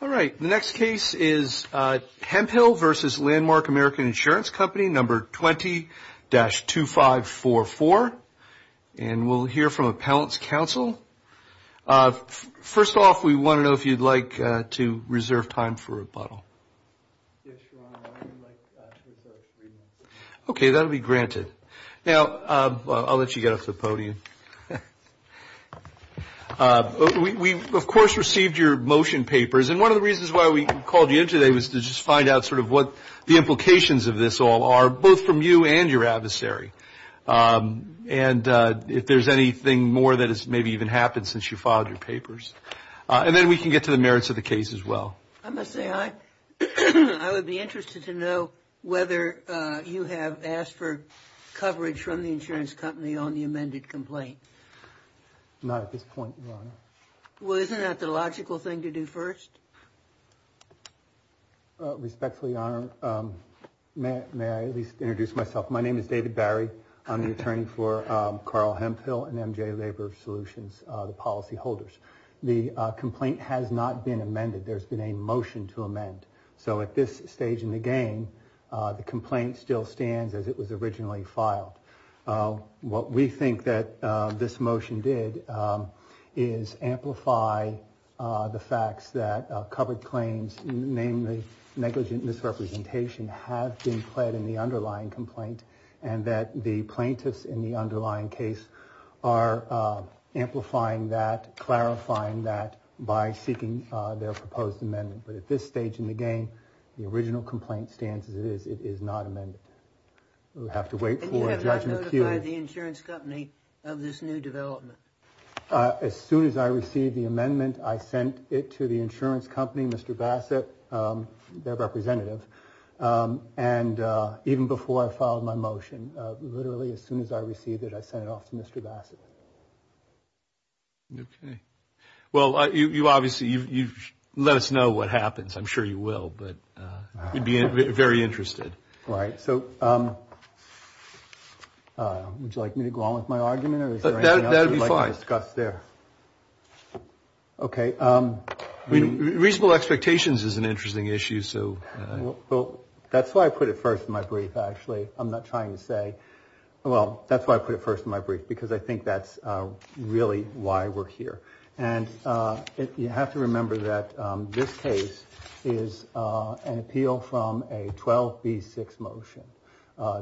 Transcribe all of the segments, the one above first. Company, No. 20-2544, and we'll hear from Appellant's counsel. First off, we want to know if you'd like to reserve time for a rebuttal. Yes, Your Honor, I would like to reserve three minutes. Okay, that will be granted. Now, I'll let you get off the podium. Before we get started, I just want to remind you that you, of course, received your motion papers, and one of the reasons why we called you in today was to just find out sort of what the implications of this all are, both from you and your adversary, and if there's anything more that has maybe even happened since you filed your papers. And then we can get to the merits of the case as well. I must say, I would be interested to know whether you have asked for coverage from the insurance company on the amended complaint. Not at this point, Your Honor. Well, isn't that the logical thing to do first? Respectfully, Your Honor, may I at least introduce myself? My name is David Barry. I'm the attorney for Carl Hemphill and MJ Labor Solutions, the policy holders. The complaint has not been amended. There's been a motion to amend. So at this stage in the game, the complaint still stands as it was amended. What this motion did is amplify the facts that covered claims, namely negligent misrepresentation, have been pled in the underlying complaint, and that the plaintiffs in the underlying case are amplifying that, clarifying that, by seeking their proposed amendment. But at this stage in the game, the original complaint stands as it is. It is not amended. We'll have to wait for a judgment period. When did you notify the insurance company of this new development? As soon as I received the amendment, I sent it to the insurance company, Mr. Bassett, their representative. And even before I filed my motion, literally as soon as I received it, I sent it off to Mr. Bassett. Okay. Well, you obviously, you let us know what happens. I'm sure you will. But we'd be very interested. All right. So would you like me to go on with my argument, or is there anything else you'd like to discuss there? That would be fine. Okay. Reasonable expectations is an interesting issue, so. That's why I put it first in my brief, actually. I'm not trying to say, well, that's why I put it first in my brief, because I think that's really why we're here. And you have to remember that this case is an appeal from a 12B6 motion.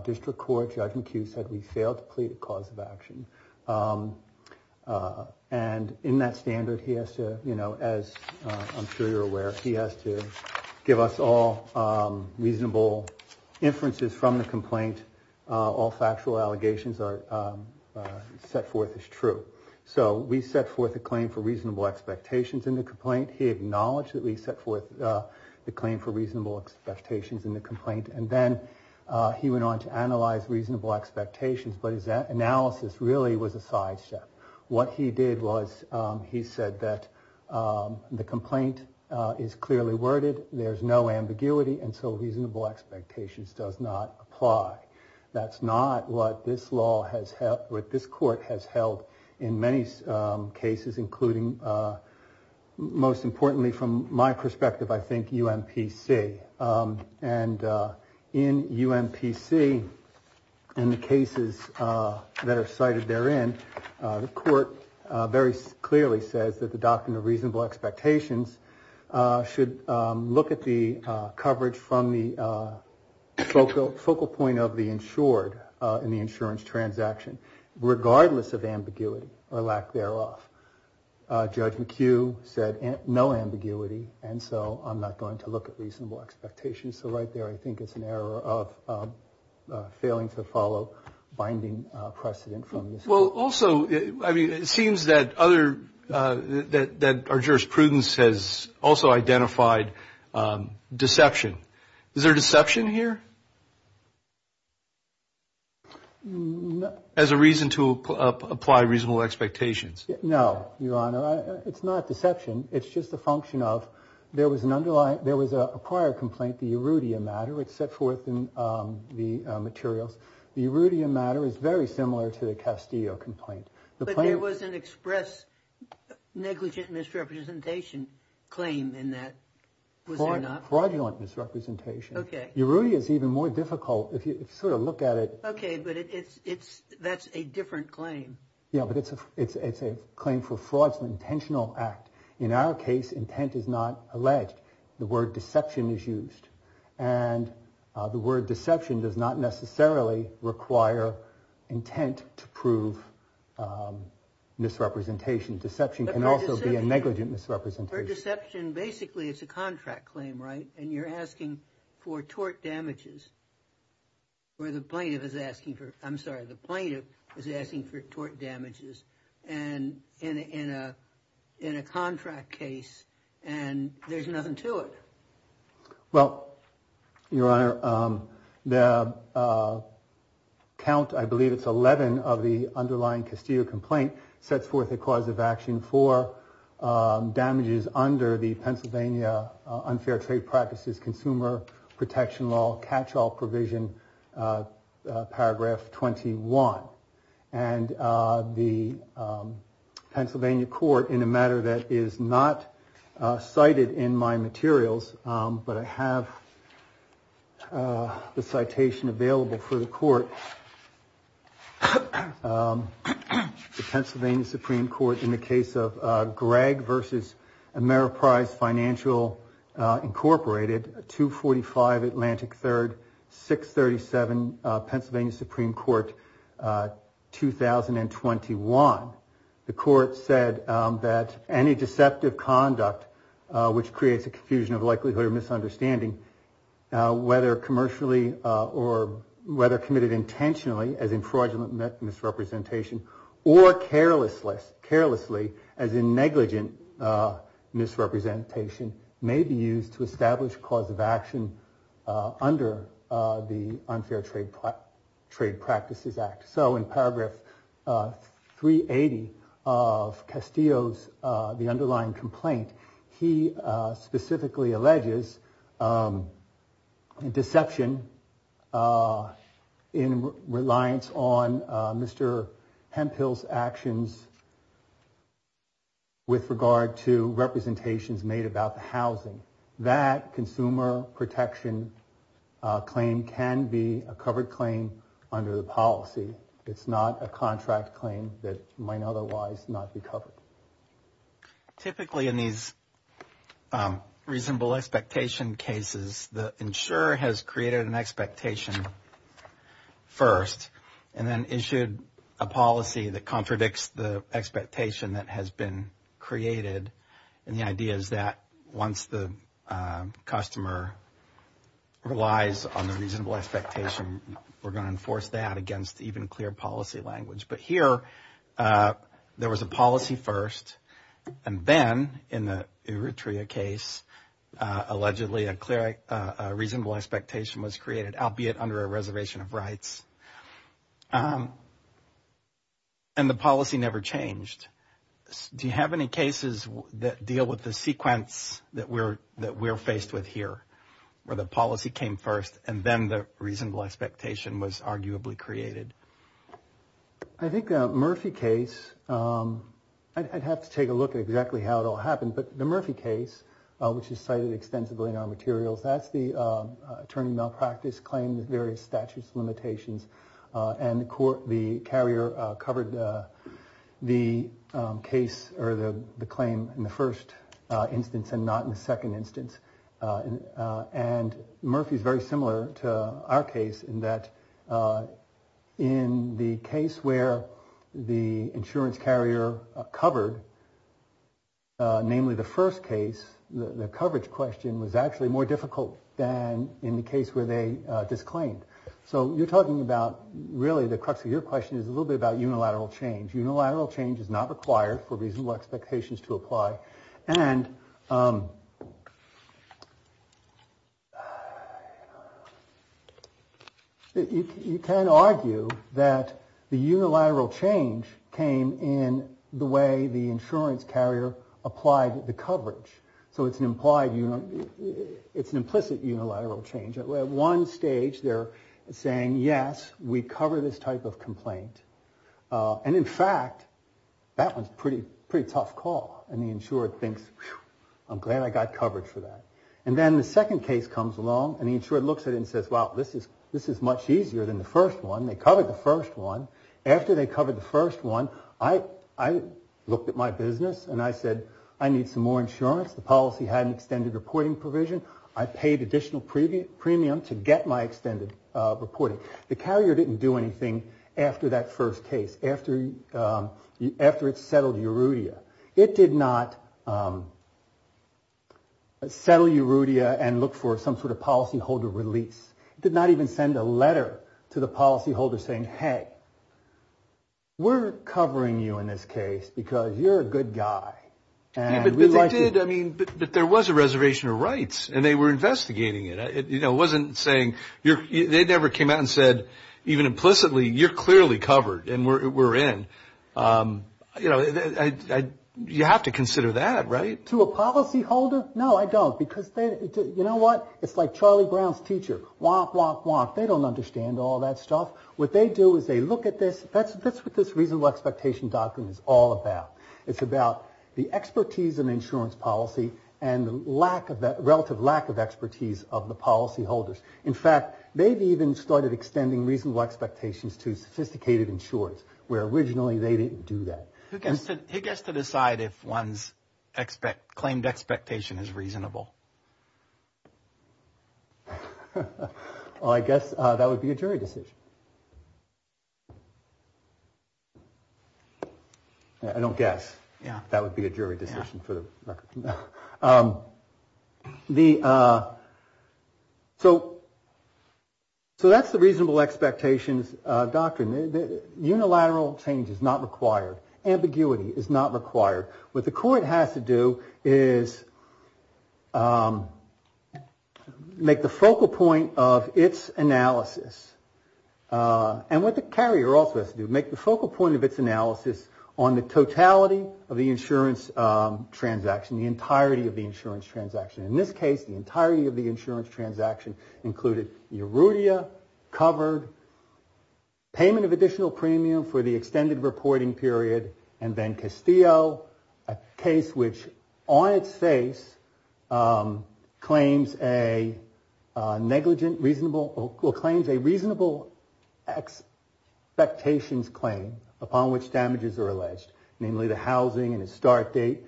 District Court, Judge McHugh said we failed to plead a cause of reasonable inferences from the complaint. All factual allegations are set forth as true. So we set forth a claim for reasonable expectations in the complaint. He acknowledged that we set forth the claim for reasonable expectations in the complaint. And then he went on to analyze reasonable expectations, but his analysis really was a sidestep. What he did was he said that the complaint is clearly worded, there's no ambiguity, and so reasonable expectations does not apply. That's not what this law has held, what this court has held in many cases, including, most importantly from my cases that are cited therein, the court very clearly says that the doctrine of reasonable expectations should look at the coverage from the focal point of the insured in the insurance transaction, regardless of ambiguity or lack thereof. Judge McHugh said no ambiguity, and so I'm not going to look at reasonable expectations, so right there I think it's an error of failing to follow binding precedent from this case. Well, also, I mean, it seems that other, that our jurisprudence has also identified deception. Is there deception here? As a reason to apply reasonable expectations? No, Your Honor, it's not deception, it's just a function of, there was an underlying, there was a prior complaint, the Erudium matter, it's set forth in the materials. The Erudium matter is very similar to the Castillo complaint. But there was an express negligent misrepresentation claim in that, was there not? Fraudulent misrepresentation. Okay. Erudium is even more difficult, if you sort of look at it. Okay, but it's, it's, that's a different claim. Yeah, but it's a claim for fraud, it's an intentional act. In our case, intent is not alleged. The word deception is used. And the word deception does not necessarily require intent to prove misrepresentation. Deception can also be a negligent misrepresentation. But the word deception, basically it's a contract claim, right? And you're asking for tort damages, where the plaintiff is asking for, I'm sorry, the plaintiff is asking for tort damages, and in a, in a contract case, and there's nothing to it. Well, Your Honor, the count, I believe it's 11 of the underlying Castillo complaint, sets forth the cause of action for damages under the Pennsylvania unfair trade practices consumer protection law catch-all provision, paragraph 21. And the Pennsylvania court, in a matter that is not cited in my materials, but I have the citation available for the court, the Pennsylvania Supreme Court in the case of Gregg v. Ameriprise Financial, Incorporated, 245 Atlantic 3rd, 637 Pennsylvania Supreme Court, 2021. The court said that any deceptive negligent misrepresentation may be used to establish cause of action under the unfair trade practices act. So in paragraph 380 of Castillo's, the with regard to representations made about the housing, that consumer protection claim can be a covered claim under the policy. It's not a contract claim that might otherwise not be covered. Typically in these reasonable expectation cases, the insurer has created an expectation first, and then issued a policy that contradicts the expectation that has been created. And the idea is that once the customer relies on the reasonable expectation, we're going to enforce that against even clear policy language. But here, there was a policy first, and then in the Eritrea case, allegedly a reasonable expectation was created, albeit under a reservation of rights. And the policy never changed. Do you have any cases that deal with the sequence that we're faced with here, where the policy came first, and then the reasonable expectation was arguably created? I think Murphy case, I'd have to take a look at exactly how it all happened, but the Murphy case, which is cited extensively in our materials, that's the attorney malpractice claims, various statutes, limitations, and the carrier covered the claim in the first instance and not in the second instance. And Murphy's very similar to our case in that in the case where the insurance carrier covered, namely the first case, the coverage question was actually more difficult than in the case where they disclaimed. So you're talking about really the crux of your question is a little bit about unilateral change. Unilateral change is not required for reasonable expectations to apply. And you can argue that the unilateral change came in the way the insurance carrier applied the coverage. So it's an implied, it's an implicit unilateral change. At one stage they're saying, yes, we cover this type of complaint. And in fact, that was a pretty tough call. And the insurer thinks, I'm glad I got coverage for that. And then the second case comes along and the insurer looks at it and says, well, this is much easier than the first one. They covered the first one. After they covered the first one, I looked at my business and I said, I need some more insurance. The policy had an extended reporting provision. I paid additional premium to get my extended reporting. The carrier didn't do anything after that first case, after it settled Erudea. It did not settle Erudea and look for some sort of policyholder release. It did not even send a letter to the policyholder saying, hey, we're covering you in this case because you're a good guy. But there was a reservation of rights and they were investigating it. It wasn't saying they never came out and said, even implicitly, you're clearly covered and we're in. You have to consider that, right? To a policyholder? No, I don't. Because you know what? It's like Charlie Brown's teacher. Womp, womp, womp. They don't understand all that stuff. What they do is they look at this. That's what this reasonable expectation document is all about. It's about the expertise in insurance policy and the relative lack of expertise of the policyholders. In fact, they've even started extending reasonable expectations to sophisticated insurers where originally they didn't do that. Who gets to decide if one's claimed expectation is reasonable? I guess that would be a jury decision. I don't guess that would be a jury decision for the record. So that's the reasonable expectations doctrine. Unilateral change is not required. Ambiguity is not required. What the court has to do is make the focal point of its analysis and what the carrier also has to do, is make the focal point of its analysis on the totality of the insurance transaction, the entirety of the insurance transaction. In this case, the entirety of the insurance transaction included erudite, covered, payment of additional premium for the extended reporting period, and then Castillo, a case which on its face claims a negligent reasonable or claims a reasonable expectations claim upon which damages are alleged, namely the housing and its start date.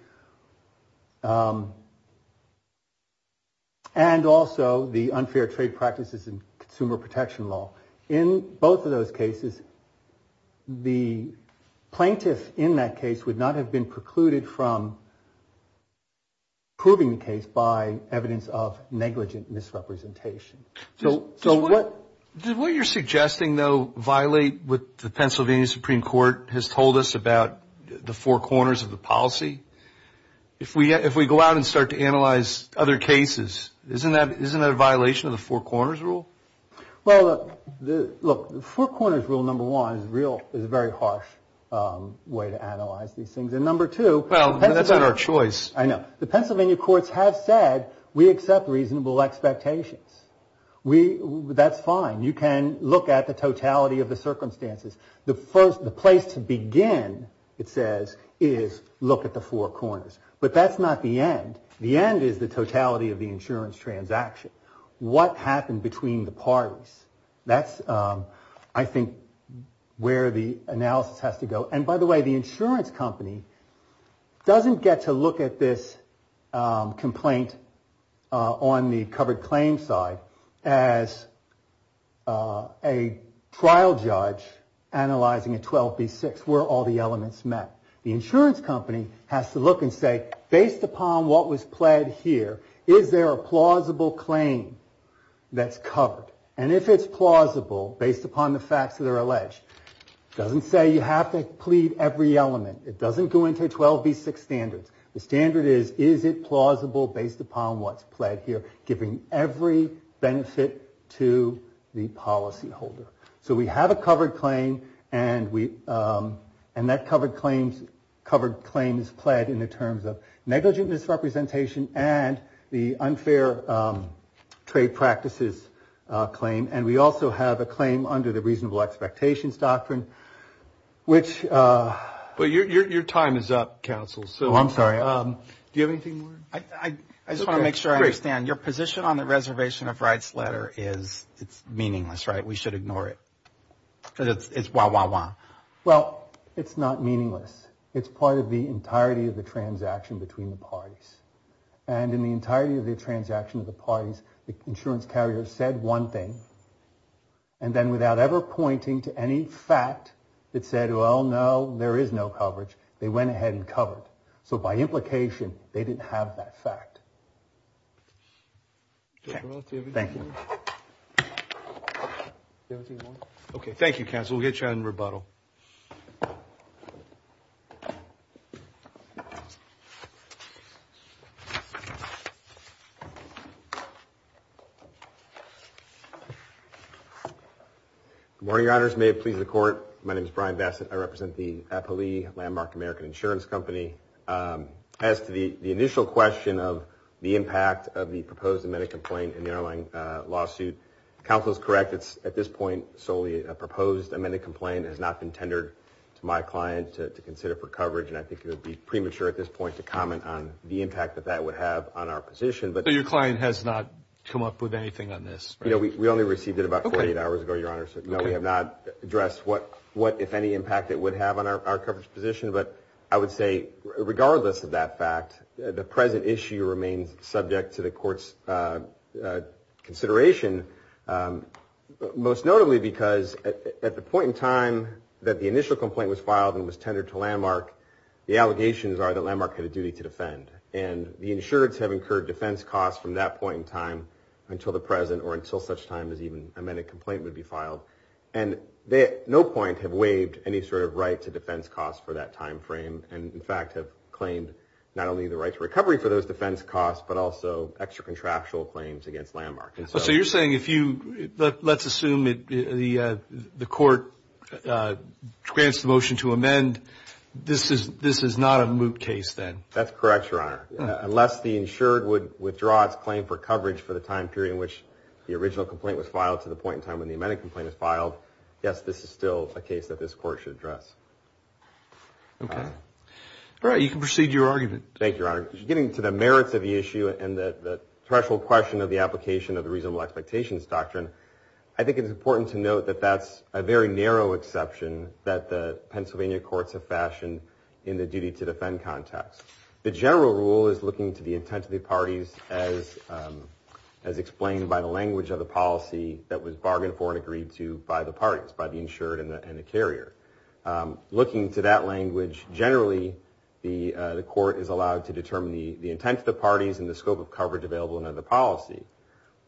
And also the unfair trade practices and consumer protection law. In both of those cases, the plaintiff in that case would not have been precluded from proving the case by evidence of negligent misrepresentation. So what... Did what you're suggesting, though, violate what the Pennsylvania Supreme Court has told us about the four corners of the policy? If we go out and start to analyze other cases, isn't that a violation of the four corners rule? Well, look, the four corners rule, number one, is a very harsh way to analyze these things. And number two... Well, that's not our choice. I know. The Pennsylvania courts have said we accept reasonable expectations. That's fine. You can look at the totality of the circumstances. The place to begin, it says, is look at the four corners. But that's not the end. The end is the totality of the insurance transaction. What happened between the parties? That's, I think, where the analysis has to go. And by the way, the insurance company doesn't get to look at this complaint on the covered claim side as a trial judge analyzing a 12B6 where all the elements met. The insurance company has to look and say, based upon what was pled here, is there a plausible claim that's covered? And if it's plausible, based upon the facts that are alleged, it doesn't say you have to plead every element. It doesn't go into 12B6 standards. The standard is, is it plausible based upon what's pled here, giving every benefit to the policyholder? So we have a covered claim, and that covered claim is pled in the terms of negligent misrepresentation and the unfair trade practices claim. And we also have a claim under the reasonable expectations doctrine, which- But your time is up, counsel. Oh, I'm sorry. Do you have anything more? I just want to make sure I understand. Your position on the reservation of rights letter is, it's meaningless, right? We should ignore it, because it's wah, wah, wah. Well, it's not meaningless. It's part of the entirety of the transaction between the parties. And in the entirety of the transaction of the parties, the insurance carrier said one thing, and then without ever pointing to any fact that said, well, no, there is no coverage, they went ahead and covered. So by implication, they didn't have that fact. Okay. Thank you. Do you have anything more? Okay. Thank you, counsel. We'll get you on rebuttal. Good morning, Your Honors. May it please the Court. My name is Brian Bassett. I represent the Appali Landmark American Insurance Company. As to the initial question of the impact of the proposed amended complaint in the airline lawsuit, counsel is correct. It's at this point solely a proposed amended complaint. It has not been tendered to my client to consider for coverage, and I think it would be premature at this point to comment on the impact that that would have on our position. But your client has not come up with anything on this, right? No, we only received it about 48 hours ago, Your Honors. No, we have not addressed what, if any, impact it would have on our coverage position. But I would say, regardless of that fact, the present issue remains subject to the Court's consideration, most notably because at the point in time that the initial complaint was filed and was tendered to Landmark, the allegations are that Landmark had a duty to defend. And the insureds have incurred defense costs from that point in time until the present or until such time as even an amended complaint would be filed. And they at no point have waived any sort of right to defense costs for that time frame and, in fact, have claimed not only the right to recovery for those defense costs but also extra-contractual claims against Landmark. So you're saying if you, let's assume the Court grants the motion to amend, this is not a moot case then? That's correct, Your Honor. Unless the insured would withdraw its claim for coverage for the time period in which the original complaint was filed to the point in time when the amended complaint was filed, yes, this is still a case that this Court should address. Okay. All right, you can proceed to your argument. Thank you, Your Honor. Getting to the merits of the issue and the threshold question of the application of the reasonable expectations doctrine, I think it's important to note that that's a very narrow exception that the Pennsylvania courts have fashioned in the duty to defend context. The general rule is looking to the intent of the parties as explained by the language of the policy that was bargained for and agreed to by the parties, by the insured and the carrier. Looking to that language, generally, the court is allowed to determine the intent of the parties and the scope of coverage available under the policy.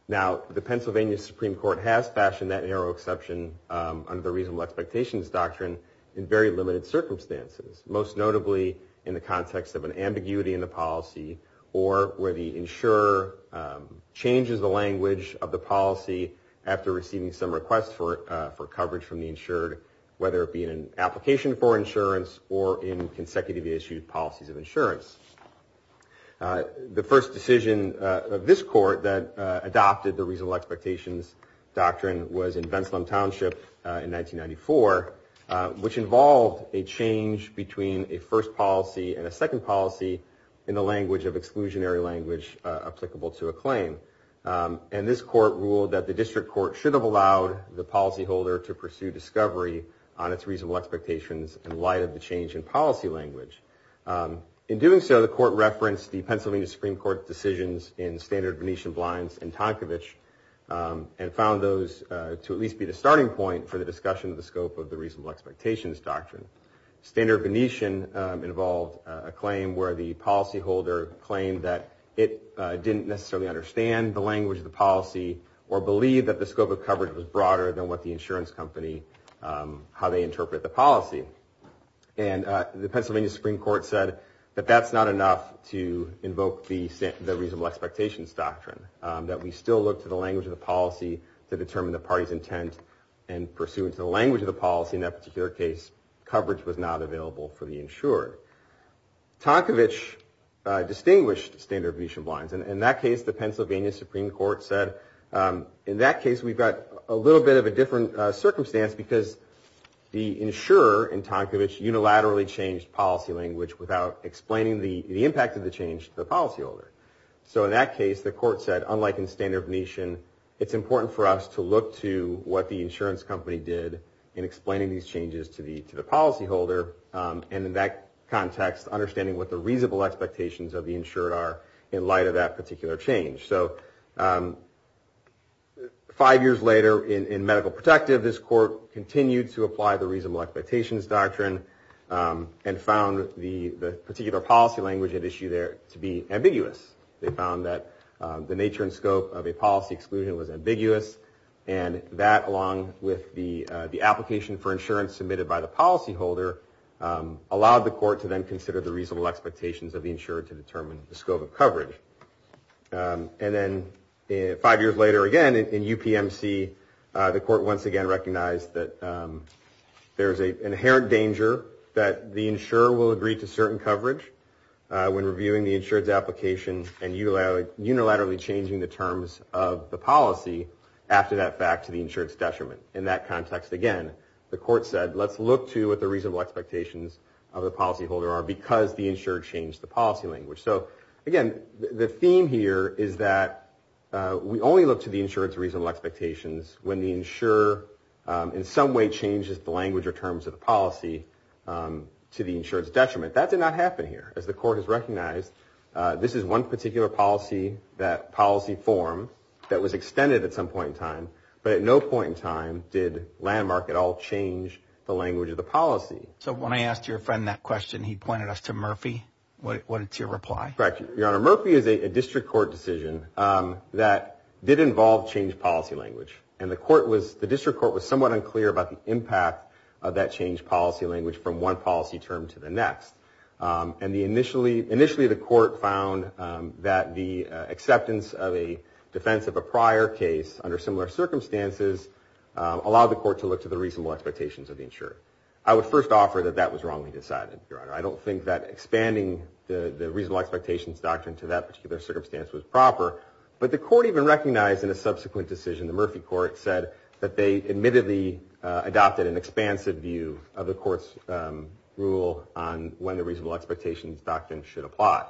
Now, the Pennsylvania Supreme Court has fashioned that narrow exception under the reasonable expectations doctrine in very limited circumstances, most notably in the context of an ambiguity in the policy or where the insurer changes the language of the policy after receiving some request for coverage from the insured, whether it be in an application for insurance or in consecutively issued policies of insurance. The first decision of this court that adopted the reasonable expectations doctrine was in Venslum Township in 1994, which involved a change between a first policy and a second policy in the language of exclusionary language applicable to a claim. And this court ruled that the district court should have allowed the policyholder to pursue discovery on its reasonable expectations in light of the change in policy language. In doing so, the court referenced the Pennsylvania Supreme Court decisions in Standard Venetian Blinds and Tonkovich and found those to at least be the starting point for the discussion of the scope of the reasonable expectations doctrine. Standard Venetian involved a claim where the policyholder claimed that it didn't necessarily understand the language of the policy or believe that the scope of coverage was broader than what the insurance company, how they interpret the policy. And the Pennsylvania Supreme Court said that that's not enough to invoke the reasonable expectations doctrine, that we still look to the language of the policy to determine the party's intent and pursuant to the language of the policy in that particular case, coverage was not available for the insured. Tonkovich distinguished Standard Venetian Blinds. In that case, the Pennsylvania Supreme Court said, in that case, we've got a little bit of a different circumstance because the insurer in Tonkovich unilaterally changed policy language without explaining the impact of the change to the policyholder. So in that case, the court said, unlike in Standard Venetian, it's important for us to look to what the insurance company did in explaining these changes to the policyholder and in that context, understanding what the reasonable expectations of the insured are in light of that particular change. So five years later in medical protective, this court continued to apply the reasonable expectations doctrine and found the particular policy language at issue there to be ambiguous. They found that the nature and scope of a policy exclusion was ambiguous and that along with the application for insurance submitted by the policyholder allowed the court to then consider the reasonable expectations of the insured to determine the scope of coverage. And then five years later again in UPMC, the court once again recognized that there is an inherent danger that the insurer will agree to certain coverage when reviewing the insured's application and unilaterally changing the terms of the policy after that fact to the insured's detriment. In that context again, the court said, let's look to what the reasonable expectations of the policyholder are because the insured changed the policy language. So again, the theme here is that we only look to the insured's reasonable expectations when the insurer in some way changes the language or terms of the policy to the insured's detriment. That did not happen here. As the court has recognized, this is one particular policy form that was extended at some point in time, but at no point in time did Landmark at all change the language of the policy. So when I asked your friend that question, he pointed us to Murphy. What is your reply? Correct, Your Honor. Murphy is a district court decision that did involve changed policy language and the district court was somewhat unclear about the impact of that changed policy language from one policy term to the next. Initially, the court found that the acceptance of a defense of a prior case under similar circumstances allowed the court to look to the reasonable expectations of the insured. I would first offer that that was wrongly decided, Your Honor. I don't think that expanding the reasonable expectations doctrine to that particular circumstance was proper, but the court even recognized in a subsequent decision, the Murphy court said, that they admittedly adopted an expansive view of the court's rule on when the reasonable expectations doctrine should apply.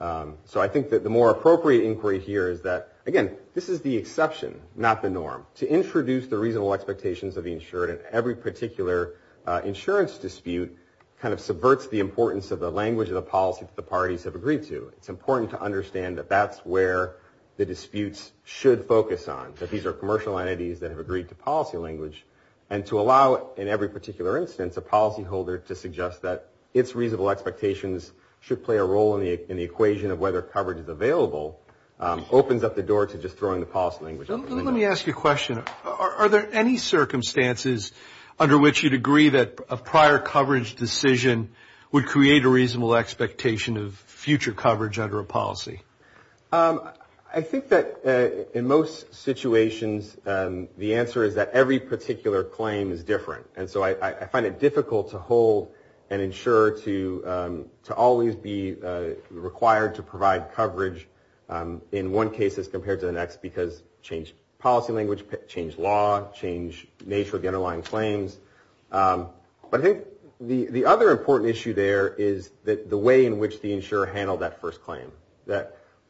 So I think that the more appropriate inquiry here is that, again, this is the exception, not the norm. To introduce the reasonable expectations of the insured in every particular insurance dispute kind of subverts the importance of the language of the policy that the parties have agreed to. It's important to understand that that's where the disputes should focus on, that these are commercial entities that have agreed to policy language, and to allow, in every particular instance, a policyholder to suggest that its reasonable expectations should play a role in the equation of whether coverage is available, opens up the door to just throwing the policy language out the window. Let me ask you a question. Are there any circumstances under which you'd agree that a prior coverage decision would create a reasonable expectation of future coverage under a policy? I think that in most situations, the answer is that every particular claim is different. And so I find it difficult to hold an insurer to always be required to provide coverage in one case as compared to the next because change policy language, change law, change nature of the underlying claims. But I think the other important issue there is the way in which the insurer handled that first claim.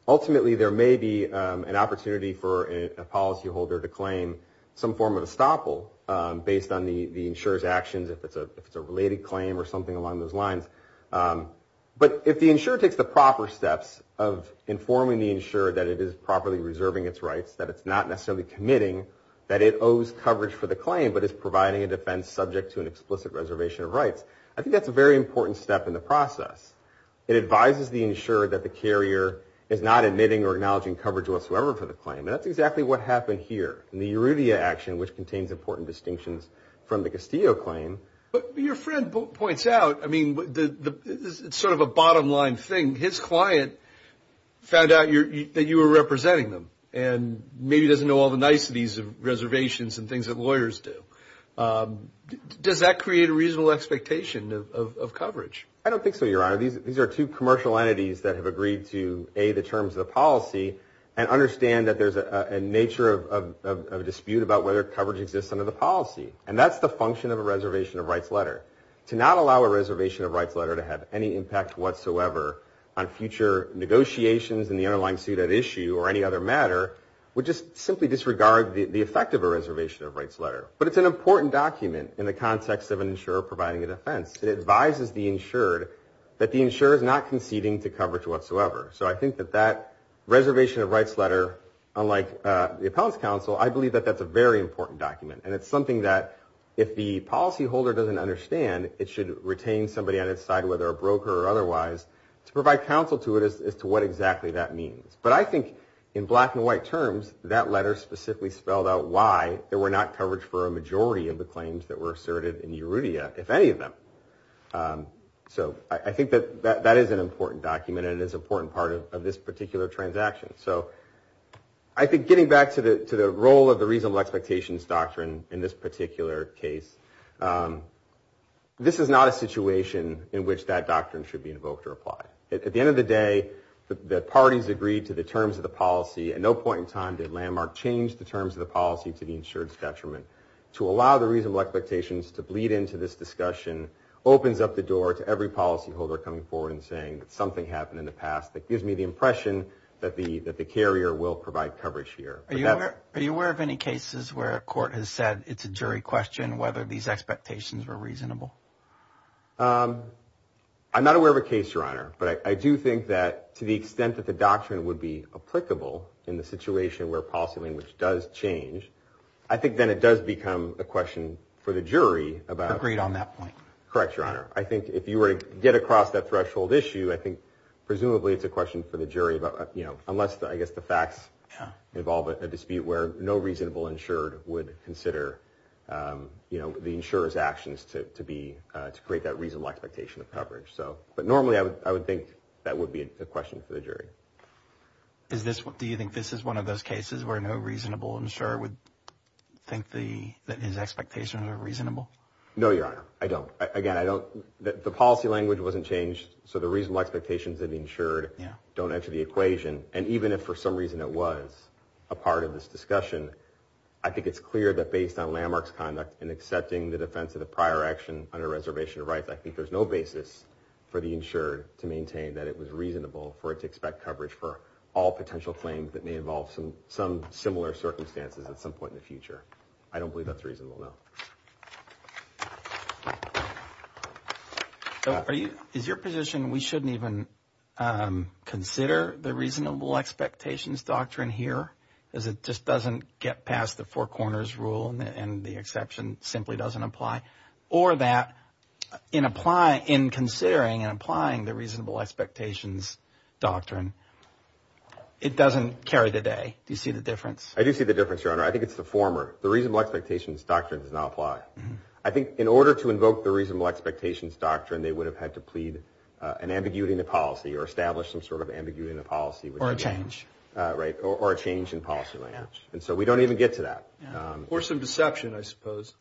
Ultimately, there may be an opportunity for a policyholder to claim some form of estoppel based on the insurer's actions, if it's a related claim or something along those lines. But if the insurer takes the proper steps of informing the insurer that it is properly reserving its rights, that it's not necessarily committing, that it owes coverage for the claim, but is providing a defense subject to an explicit reservation of rights, I think that's a very important step in the process. It advises the insurer that the carrier is not admitting or acknowledging coverage whatsoever for the claim. And that's exactly what happened here in the Erudea action, which contains important distinctions from the Castillo claim. But your friend points out, I mean, it's sort of a bottom line thing. His client found out that you were representing them and maybe doesn't know all the niceties of reservations and things that lawyers do. Does that create a reasonable expectation of coverage? I don't think so, Your Honor. These are two commercial entities that have agreed to, A, the terms of the policy and understand that there's a nature of dispute about whether coverage exists under the policy. And that's the function of a reservation of rights letter. To not allow a reservation of rights letter to have any impact whatsoever on future negotiations in the underlying suit at issue or any other matter would just simply disregard the effect of a reservation of rights letter. But it's an important document in the context of an insurer providing a defense. It advises the insured that the insurer is not conceding to coverage whatsoever. So I think that that reservation of rights letter, unlike the appellant's counsel, I believe that that's a very important document. And it's something that if the policyholder doesn't understand, it should retain somebody on its side, whether a broker or otherwise, to provide counsel to it as to what exactly that means. But I think in black and white terms, that letter specifically spelled out why there were not coverage for a majority of the claims that were asserted in Euridia, if any of them. So I think that that is an important document and is an important part of this particular transaction. So I think getting back to the role of the reasonable expectations doctrine in this particular case, this is not a situation in which that doctrine should be invoked or applied. At the end of the day, the parties agreed to the terms of the policy. At no point in time did Landmark change the terms of the policy to the insured's detriment. To allow the reasonable expectations to bleed into this discussion opens up the door to every policyholder coming forward and saying that something happened in the past that gives me the impression that the carrier will provide coverage here. Are you aware of any cases where a court has said it's a jury question whether these expectations were reasonable? I'm not aware of a case, Your Honor. But I do think that to the extent that the doctrine would be applicable in the situation where policy language does change, I think then it does become a question for the jury about. Agreed on that point. Correct, Your Honor. I think if you were to get across that threshold issue, I think presumably it's a question for the jury about, you know, unless I guess the facts involve a dispute where no reasonable insured would consider, you know, the insurer's actions to create that reasonable expectation of coverage. But normally I would think that would be a question for the jury. Do you think this is one of those cases where no reasonable insurer would think that his expectations are reasonable? No, Your Honor, I don't. Again, I don't. The policy language wasn't changed, so the reasonable expectations of the insured don't enter the equation. And even if for some reason it was a part of this discussion, I think it's clear that based on landmarks conduct and accepting the defense of the prior action under reservation of rights, I think there's no basis for the insured to maintain that it was reasonable for it to expect coverage for all potential claims that may involve some similar circumstances at some point in the future. I don't believe that's reasonable, no. Is your position we shouldn't even consider the reasonable expectations doctrine here? Because it just doesn't get past the four corners rule and the exception simply doesn't apply? Or that in considering and applying the reasonable expectations doctrine, it doesn't carry the day? Do you see the difference? I do see the difference, Your Honor. I think it's the former. The reasonable expectations doctrine does not apply. I think in order to invoke the reasonable expectations doctrine, they would have had to plead an ambiguity in the policy or establish some sort of ambiguity in the policy. Or a change. Right. Or a change in policy language. And so we don't even get to that. Or some deception, I suppose.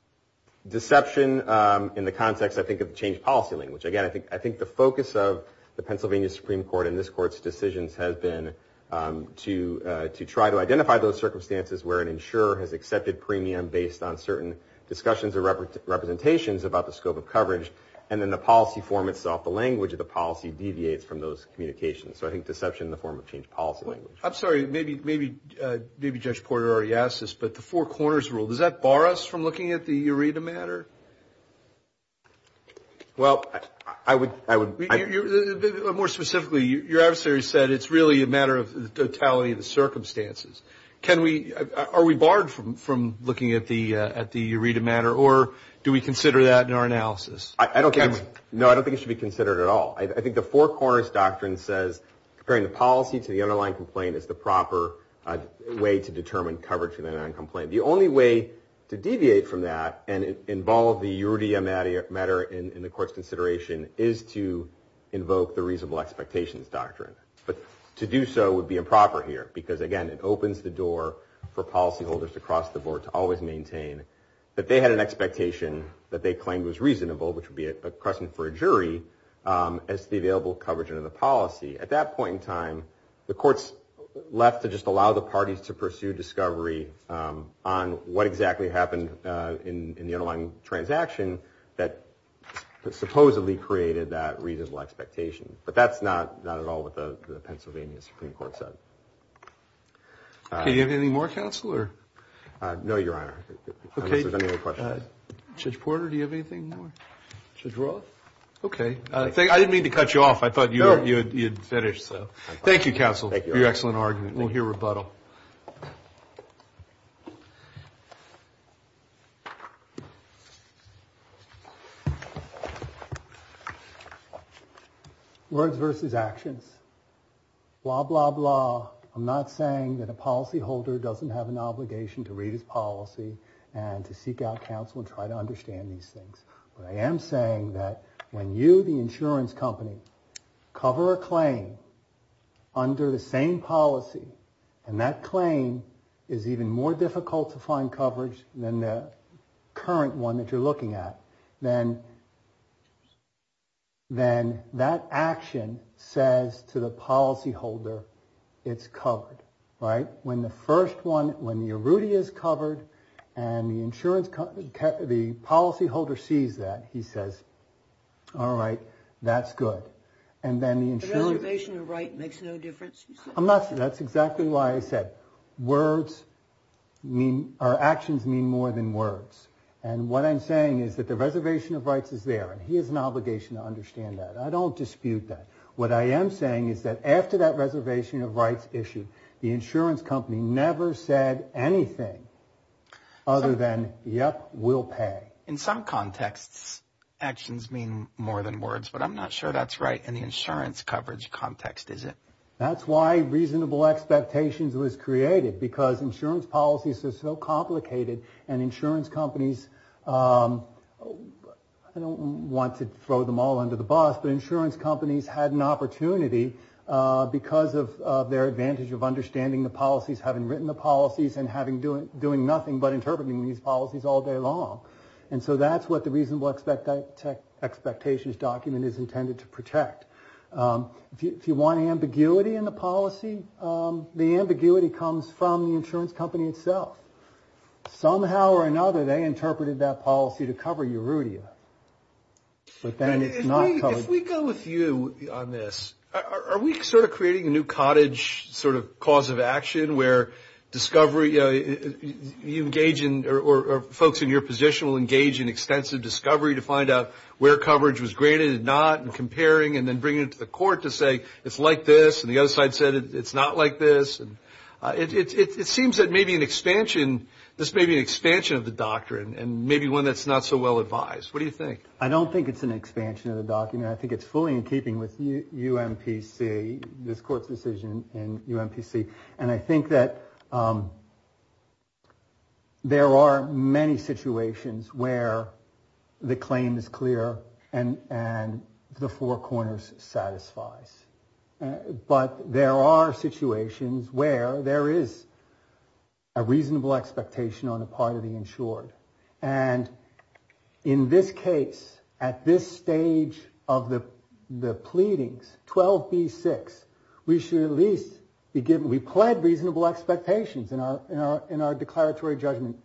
Deception in the context, I think, of the changed policy language. Again, I think the focus of the Pennsylvania Supreme Court and this Court's decisions has been to try to identify those circumstances where an insurer has accepted premium based on certain discussions or representations about the scope of coverage, and then the policy form itself, the language of the policy deviates from those communications. So I think deception in the form of changed policy language. I'm sorry. Maybe Judge Porter already asked this, but the four corners rule, does that bar us from looking at the ERETA matter? Well, I would. More specifically, your adversary said it's really a matter of the totality of the circumstances. Are we barred from looking at the ERETA matter, or do we consider that in our analysis? No, I don't think it should be considered at all. I think the four corners doctrine says comparing the policy to the underlying complaint is the proper way to determine coverage for the underlying complaint. The only way to deviate from that and involve the ERETA matter in the Court's consideration is to invoke the reasonable expectations doctrine. But to do so would be improper here, because, again, it opens the door for policyholders across the board to always maintain that they had an expectation that they claimed was reasonable, which would be a question for a jury, as to the available coverage under the policy. At that point in time, the Court's left to just allow the parties to pursue discovery on what exactly happened in the underlying transaction that supposedly created that reasonable expectation. But that's not at all what the Pennsylvania Supreme Court said. Do you have anything more, Counselor? No, Your Honor, unless there's any other questions. Judge Porter, do you have anything more? Judge Roth? Okay. I didn't mean to cut you off. I thought you had finished. Thank you, Counsel, for your excellent argument. We'll hear rebuttal. Words versus actions. Blah, blah, blah. I'm not saying that a policyholder doesn't have an obligation to read his policy and to seek out counsel and try to understand these things. But I am saying that when you, the insurance company, cover a claim under the same policy and that claim is even more difficult to find coverage than the current one that you're looking at, then that action says to the policyholder it's covered, right? When the first one, when the Arruti is covered and the insurance company, the policyholder sees that, he says, all right, that's good. And then the insurance... The reservation of rights makes no difference, you said? That's exactly why I said words mean, or actions mean more than words. And what I'm saying is that the reservation of rights is there, and he has an obligation to understand that. I don't dispute that. What I am saying is that after that reservation of rights issue, the insurance company never said anything other than, yep, we'll pay. In some contexts, actions mean more than words, but I'm not sure that's right in the insurance coverage context, is it? That's why reasonable expectations was created, because insurance policies are so complicated and insurance companies, I don't want to throw them all under the bus, but insurance companies had an opportunity because of their advantage of understanding the policies, having written the policies and doing nothing but interpreting these policies all day long. And so that's what the reasonable expectations document is intended to protect. If you want ambiguity in the policy, the ambiguity comes from the insurance company itself. Somehow or another, they interpreted that policy to cover Arrutia. But then it's not covered. If we go with you on this, are we sort of creating a new cottage sort of cause of action where discovery, you know, you engage in or folks in your position will engage in extensive discovery to find out where coverage was graded and not and comparing and then bringing it to the court to say it's like this and the other side said it's not like this. It seems that maybe an expansion, this may be an expansion of the doctrine and maybe one that's not so well advised. What do you think? I don't think it's an expansion of the document. I think it's fully in keeping with UMPC, this court's decision in UMPC. And I think that there are many situations where the claim is clear and the four corners satisfies. But there are situations where there is a reasonable expectation on the part of the insured. And in this case, at this stage of the pleadings, 12B6, we should at least be given, we pled reasonable expectations in our declaratory judgment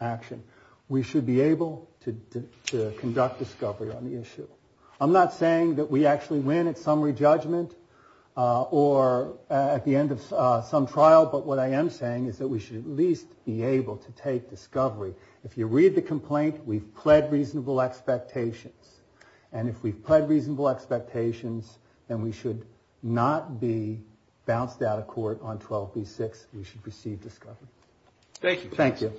action. We should be able to conduct discovery on the issue. I'm not saying that we actually win at summary judgment or at the end of some trial, but what I am saying is that we should at least be able to take discovery. If you read the complaint, we've pled reasonable expectations. And if we've pled reasonable expectations, then we should not be bounced out of court on 12B6. We should receive discovery. Thank you. Thank you.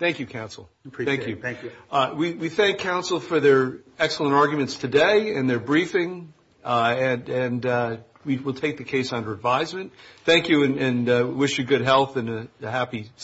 Thank you, counsel. Appreciate it. Thank you. We thank counsel for their excellent arguments today and their briefing. And we will take the case under advisement. Thank you and wish you good health and a happy Sunday.